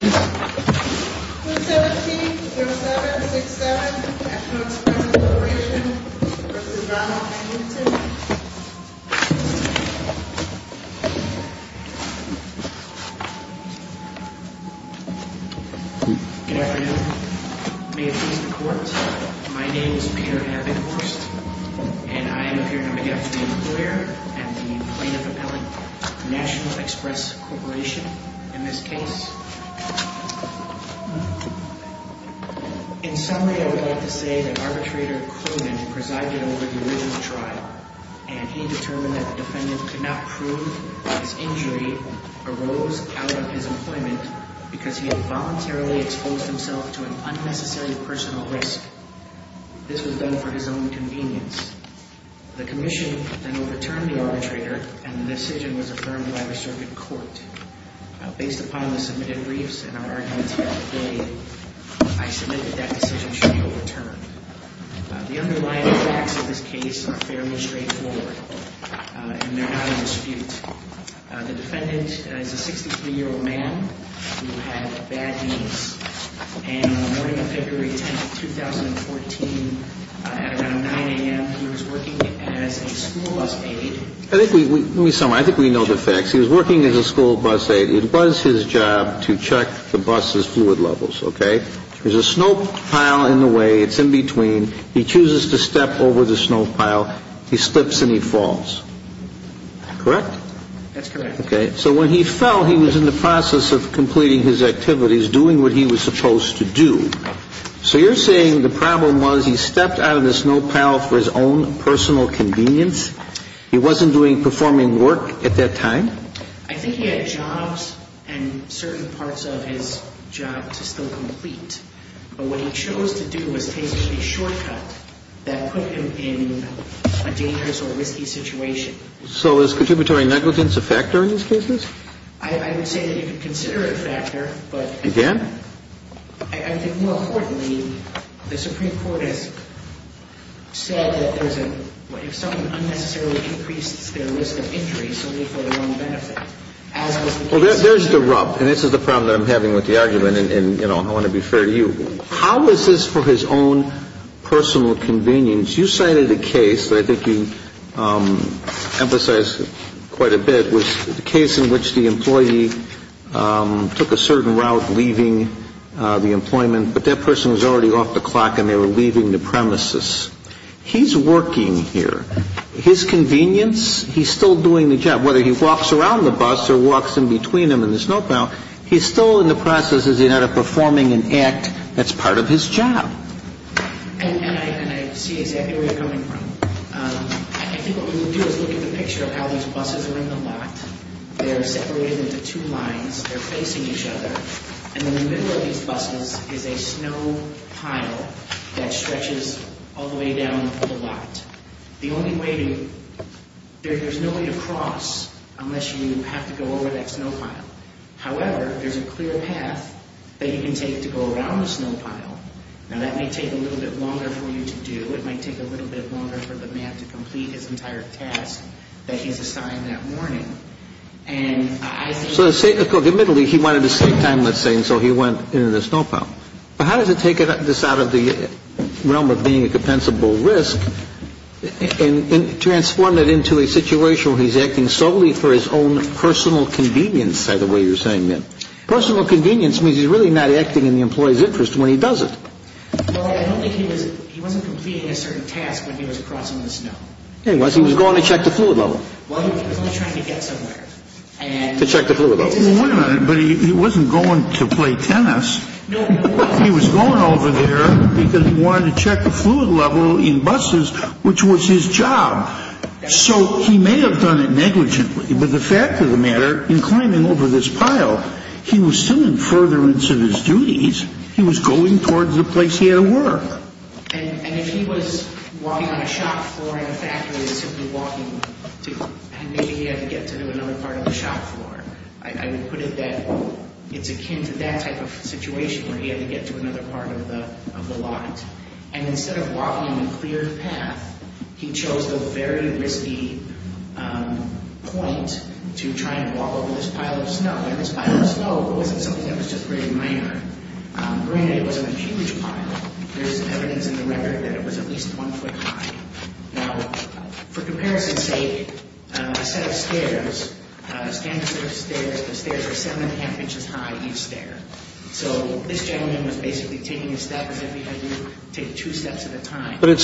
Good afternoon. May it please the court, my name is Peter Abbott Horst and I am here to make an appeal to the employer and the plaintiff appellant, National Express Corporation. In this case, in summary I would like to say that arbitrator Cronin presided over the original trial and he determined that the defendant could not prove that his injury arose out of his employment because he had voluntarily exposed himself to an unnecessary personal risk. This was done for his own convenience. The commission then overturned the arbitrator and the decision was affirmed by the circuit court. Based upon the submitted briefs and our arguments here today, I submit that that decision should be overturned. The underlying facts of this case are fairly straightforward and they are not in dispute. The defendant is a 63-year-old man who had bad needs and on the morning of February 10, 2014, at around we know the facts. He was working as a school bus aid. It was his job to check the bus' fluid levels, okay. There's a snow pile in the way, it's in between. He chooses to step over the snow pile. He slips and he falls, correct? That's correct. Okay. So when he fell, he was in the process of completing his activities, doing what he was supposed to do. So you're saying the problem was he stepped out of the snow pile for his own personal convenience? He wasn't doing performing work at that time? I think he had jobs and certain parts of his job to still complete. But what he chose to do was take a shortcut that put him in a dangerous or risky situation. So is contributory negligence a factor in these cases? I would say that you could consider it a factor, but... Again? I think more importantly, the Supreme Court has said that if someone unnecessarily increases their risk of injury, it's only for their own benefit. Well, there's the rub, and this is the problem that I'm having with the argument, and I want to be fair to you. How is this for his own personal convenience? You cited a case that I think you emphasized quite a bit was the case in which the employee took a certain route leaving the employment, but that person was already off the clock and they were leaving the premises. He's working here. His convenience, he's still doing the job. Whether he walks around the bus or walks in between them in the snow pile, he's still in the process of performing an act that's part of his job. And I see exactly where you're coming from. I think what we would do is look at the picture of how these buses are in the lot. They're separated into two lines. They're facing each other, and in the middle of these buses is a snow pile that stretches all the way down the lot. There's no way to cross unless you have to go over that snow pile. However, there's a clear path that you can take to go around the snow pile. Now, that may take a little bit longer for you to do. It might take a little bit longer for the man to complete his entire task that he's assigned that morning. And I think... So say, look, admittedly, he wanted to save time, let's say, and so he went into the snow pile. But how does it take this out of the realm of being a compensable risk and transform it into a situation where he's acting solely for his own personal convenience, by the way you're saying that? Personal convenience means he's really not acting in the employee's interest when he does it. Well, I don't think he was... He wasn't completing a certain task when he was crossing the snow. He was. He was going to check the fluid level. Well, he was only trying to get somewhere. To check the fluid level. Well, wait a minute. But he wasn't going to play tennis. No. He was going over there because he wanted to check the fluid level in buses, which was his job. So he may have done it negligently. But the fact of the matter, in climbing over this pile, he was still in furtherance of his duties. He was going towards the place he had to work. And if he was walking on a shop floor in a factory and simply walking to... And maybe he had to get to another part of the shop floor. I would put it that it's akin to that type of situation where he had to get to another part of the lot. And instead of walking on But it's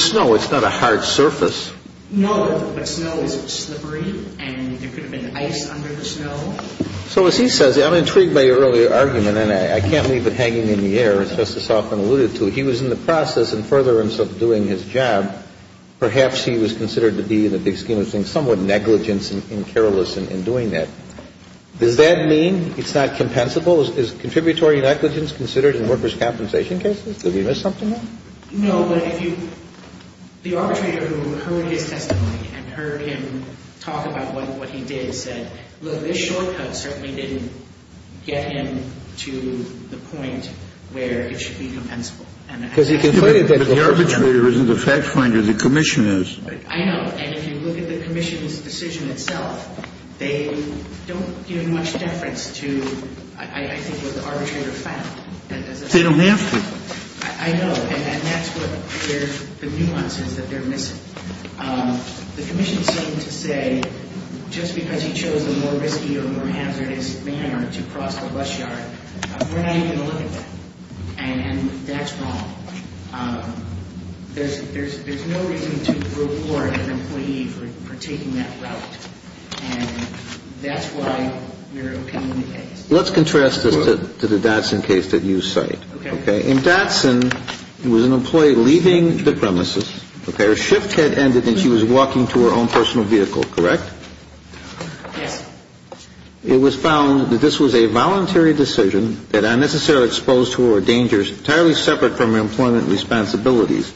snow. It's not a hard surface. No, but snow is slippery and there could have been ice under the snow. So as he says, I'm intrigued by your earlier argument, and I can't leave it hanging in the air, as Justice Hoffman alluded to. He was in the process in furtherance of doing his job. Perhaps he was considered to be, in the big scheme of things, somewhat negligent and careless in doing that. Does that mean it's not compensable? Is contributory negligence considered in workers' compensation cases? Did we miss something there? No, but if you – the arbitrator who heard his testimony and heard him talk about what he did said, look, this shortcut certainly didn't get him to the point where it should be compensable. But the arbitrator isn't the fact finder. The commission is. I know. And if you look at the commission's decision itself, they don't give much deference to, I think, what the arbitrator found. They don't have to. I know. And that's what – the nuance is that they're missing. The commission seemed to say just because he chose a more risky or more hazardous manner to cross the bus yard, we're not even going to look at that. And that's wrong. There's no reason to reward an employee for taking that route. And that's why we're opening the case. Let's contrast this to the Datsun case that you cite. Okay. In Datsun, it was an employee leaving the premises, okay? Her shift had ended and she was walking to her own personal vehicle, correct? Yes. It was found that this was a voluntary decision that unnecessarily exposed her dangers entirely separate from her employment responsibilities.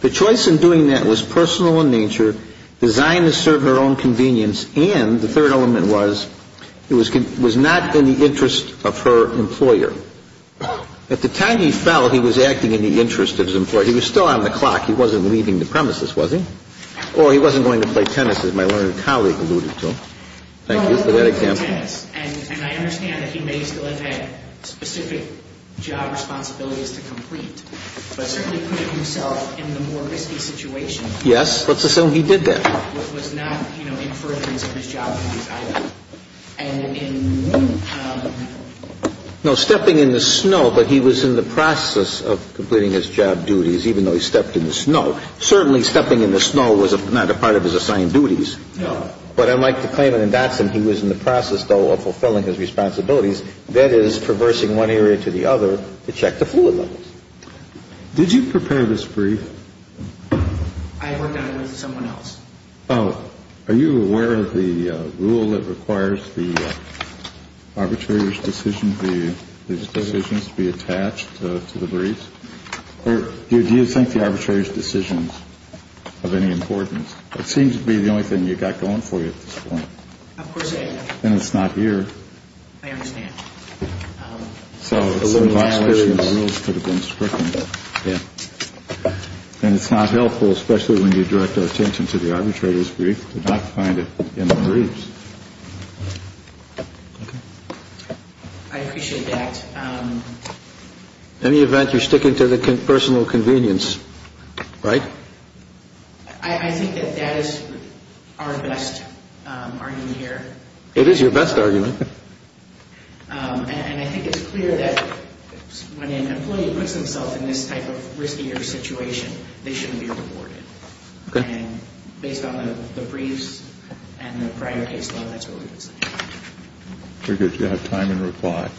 The choice in doing that was personal in nature, designed to serve her own convenience, and the third element was it was not in the interest of her employer. At the time he fell, he was acting in the interest of his employer. He was still on the clock. He wasn't leaving the premises, was he? Or he wasn't going to play tennis, as my learned colleague alluded to. Thank you for that example. Well, he was going to play tennis. And I understand that he may still have had specific job responsibilities to complete, but certainly put himself in the more risky situation. Yes. Let's assume he did that. He was not, you know, in furtherance of his job duties either. And in no, stepping in the snow, but he was in the process of completing his job duties, even though he stepped in the snow. Certainly stepping in the snow was not a part of his assigned duties. But unlike the claimant in Datsun, he was in the process, though, of fulfilling his responsibilities, that is, traversing one area to the other to check the fluid levels. Did you prepare this brief? I worked on it with someone else. Oh, are you aware of the rule that requires the arbitrator's decision, these decisions to be attached to the briefs? Or do you think the arbitrator's decisions are of any importance? It seems to be the only thing you've got going for you at this point. Of course I have. Then it's not here. I understand. So some violations of the rules could have been stricken. Yeah. And it's not helpful, especially when you direct our attention to the arbitrator's brief, to not find it in the briefs. I appreciate that. In any event, you're sticking to the personal convenience, right? I think that that is our best argument here. It is your best argument. And I think it's clear that when an employee puts themselves in this type of riskier situation, they shouldn't be rewarded. And based on the briefs and the prior case law, that's what we would say. Very good. Do you have time in reply? Yes.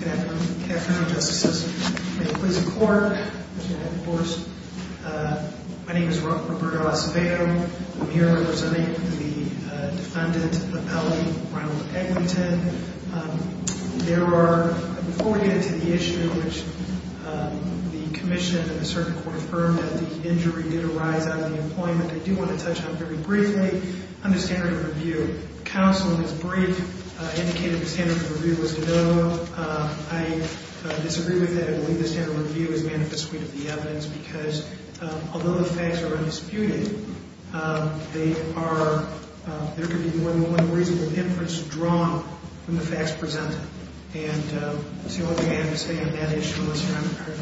Good afternoon. Good afternoon, Justices. May it please the Court. May it please the Court. My name is Roberto Acevedo. I'm here representing the defendant appellate, Ronald Eglinton. There are, before we get into the issue, which the commission and the circuit court affirmed that the injury did arise out of the employment, I do want to touch on very briefly on the standard of review. Counsel in his brief indicated the standard of review was to no. I disagree with that. I believe the standard of review is manifestly to the evidence because although the facts are undisputed, they are, there could be more than one reasonable inference drawn from the facts presented. And that's the only thing I can say on that issue. I'm sorry,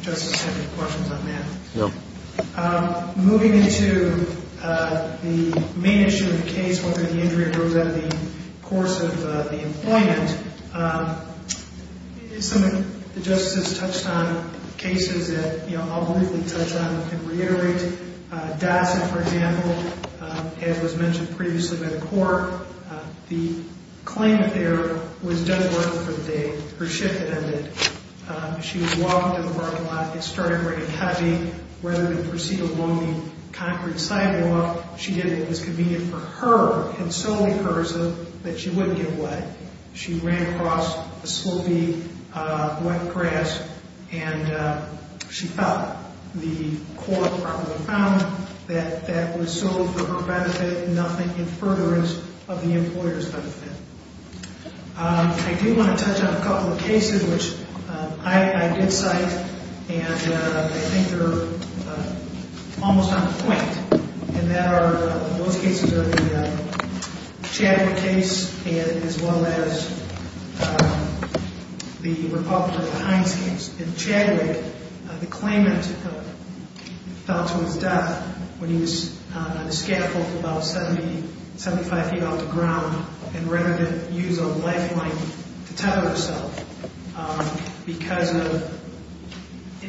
Justice, if you have any questions on that. No. Moving into the main issue of the case, whether the injury arose out of the course of the employment, some of the Justices touched on cases that I'll briefly touch on and reiterate. Dawson, for example, as was mentioned previously by the court, the claimant there was done well for the day. Her shift had ended. She was walking to the parking lot. It started raining heavy. Rather than proceed along the concrete sidewalk, she did what was convenient for her and solely hers so that she wouldn't get wet. She ran across a slopey, wet grass, and she fell. The court probably found that that was so for her benefit, nothing in furtherance of the employer's benefit. I do want to touch on a couple of cases which I did cite, and I think they're almost on point. Those cases are the Chadwick case as well as the Republican-Heinz case. In Chadwick, the claimant fell to his death when he was on a scaffold about 75 feet off the ground, and rather than use a lifeline to tether herself because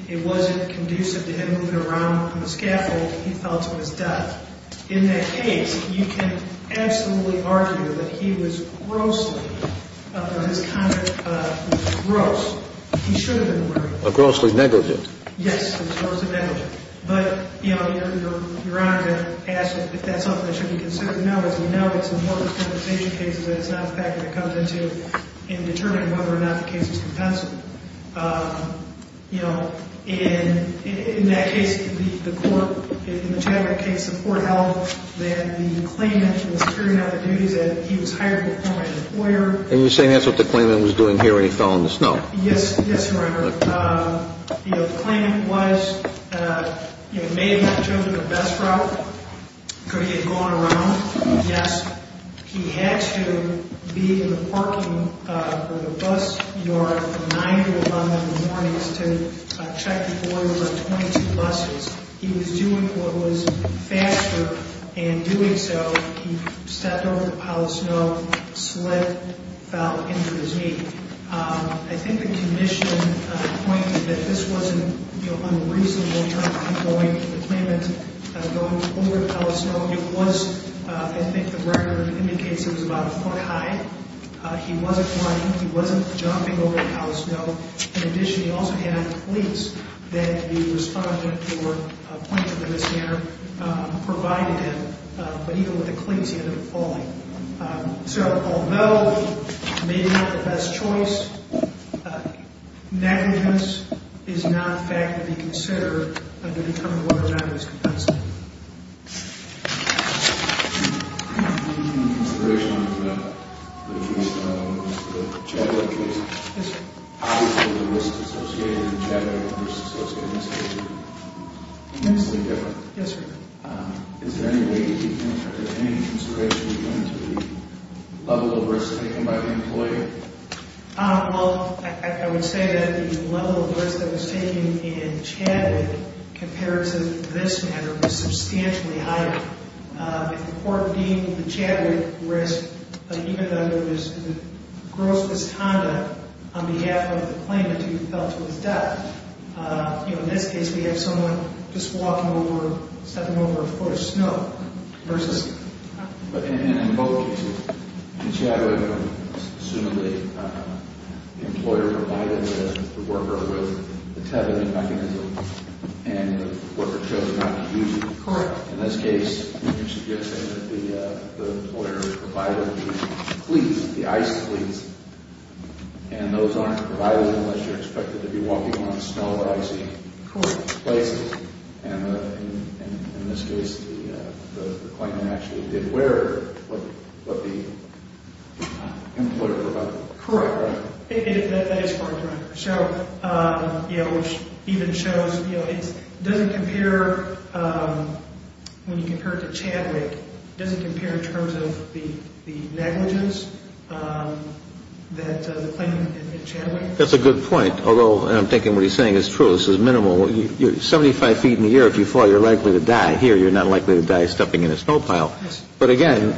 it wasn't conducive to him moving around on the scaffold, he fell to his death. In that case, you can absolutely argue that he was grossly, or his conduct was gross. He should have been murdered. A grossly negligent. Yes, a grossly negligent. But, you know, Your Honor, to ask if that's something that should be considered, no. As we know, it's important in compensation cases that it's not a factor that should be considered in compensation. You know, in that case, the court, in the Chadwick case, the court held that the claimant was carrying out the duties that he was hired to perform as an employer. And you're saying that's what the claimant was doing here when he fell in the snow? Yes, Your Honor. You know, the claimant was, you know, maybe he had chosen the best route because he had gone around. Yes. He had to be in the parking of the bus yard at 9 o'clock in the morning to check before there were 22 buses. He was doing what was faster, and doing so, he stepped over a pile of snow, slipped, fell, and injured his knee. I think the commission pointed that this wasn't unreasonable, going to the claimant, going over a pile of snow. It was, I think the record indicates it was about a foot high. He wasn't flying. He wasn't jumping over a pile of snow. In addition, he also had cleats that the respondent or pointer of the missionary provided him. But even with the cleats, he ended up falling. So although maybe not the best choice, negligence is not a factor to be considered. In consideration of the case, the Chadwick case. Yes, sir. How is the risk associated in Chadwick and the risk associated in this case immensely different? Yes, sir. Is there any way to define that? Is there any consideration of the level of risk taken by the employer? Well, I would say that the level of risk that was taken in Chadwick compared to this matter was substantially higher. If the court deemed the Chadwick risk, even though there was gross misconduct on behalf of the claimant who fell to his death, you know, in this case we have someone just walking over, stepping over a foot of snow versus. And in both cases, the Chadwick, assuming the employer provided the worker with the mechanism and the worker chose not to use it. Correct. In this case, the employer provided the cleats, the ice cleats, and those aren't provided unless you're expected to be walking on snow or icy places. And in this case, the claimant actually did wear what the employer provided. Correct. That is correct, Your Honor. So, you know, which even shows, you know, it doesn't compare when you compare it to Chadwick. It doesn't compare in terms of the negligence that the claimant in Chadwick. That's a good point, although I'm thinking what he's saying is true. This is minimal. Seventy-five feet in the air, if you fall, you're likely to die. Here, you're not likely to die stepping in a snow pile. Yes. But, again,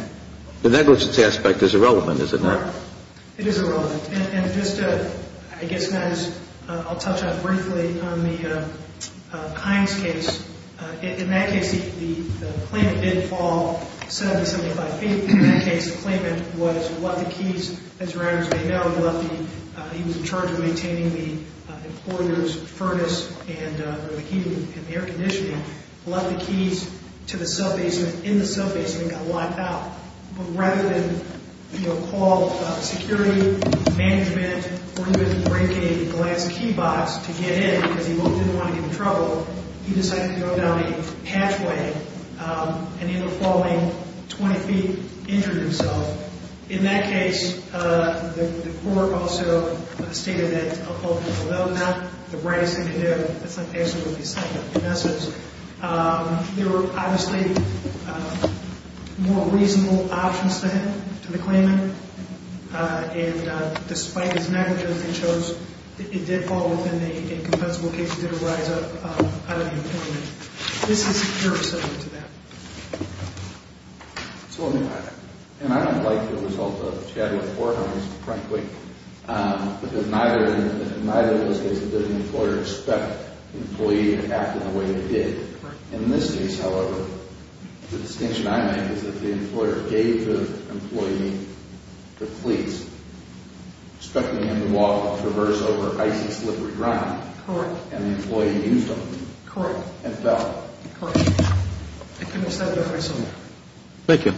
the negligence aspect is irrelevant, is it not? It is irrelevant. And just to, I guess, kind of just, I'll touch on it briefly on the Kimes case. In that case, the claimant didn't fall seventy-five feet. In that case, the claimant was, left the keys, as Your Honors may know, he was in charge of maintaining the employer's furnace and the heating and the air conditioning, left the keys to the cell basement, in the cell basement, and got wiped out. But rather than call security, management, or even break a glass key box to get in because he didn't want to get in trouble, he decided to go down a pathway and, either falling twenty feet, injured himself. In that case, the court also stated that, although that's not the brightest thing to do, that's not necessarily the best thing to do. There were, obviously, more reasonable options to him, to the claimant, and despite his negligence, it shows that it did fall within the incompensable case, it did rise up out of the employment. This is a pure assessment to that. So, and I don't like the result of Chadwick Forehouse, frankly, because neither, in either of those cases, did an employer expect an employee to act in the way they did. In this case, however, the distinction I make is that the employer gave the employee the cleats, stuck them in the wall to traverse over icy, slippery ground, and the employee used them, and fell. Thank you. Thank you.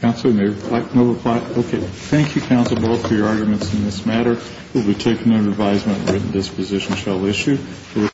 Counsel, no reply? Okay. Thank you, counsel, both, for your arguments in this matter. It will be taken under advisement that this position shall issue.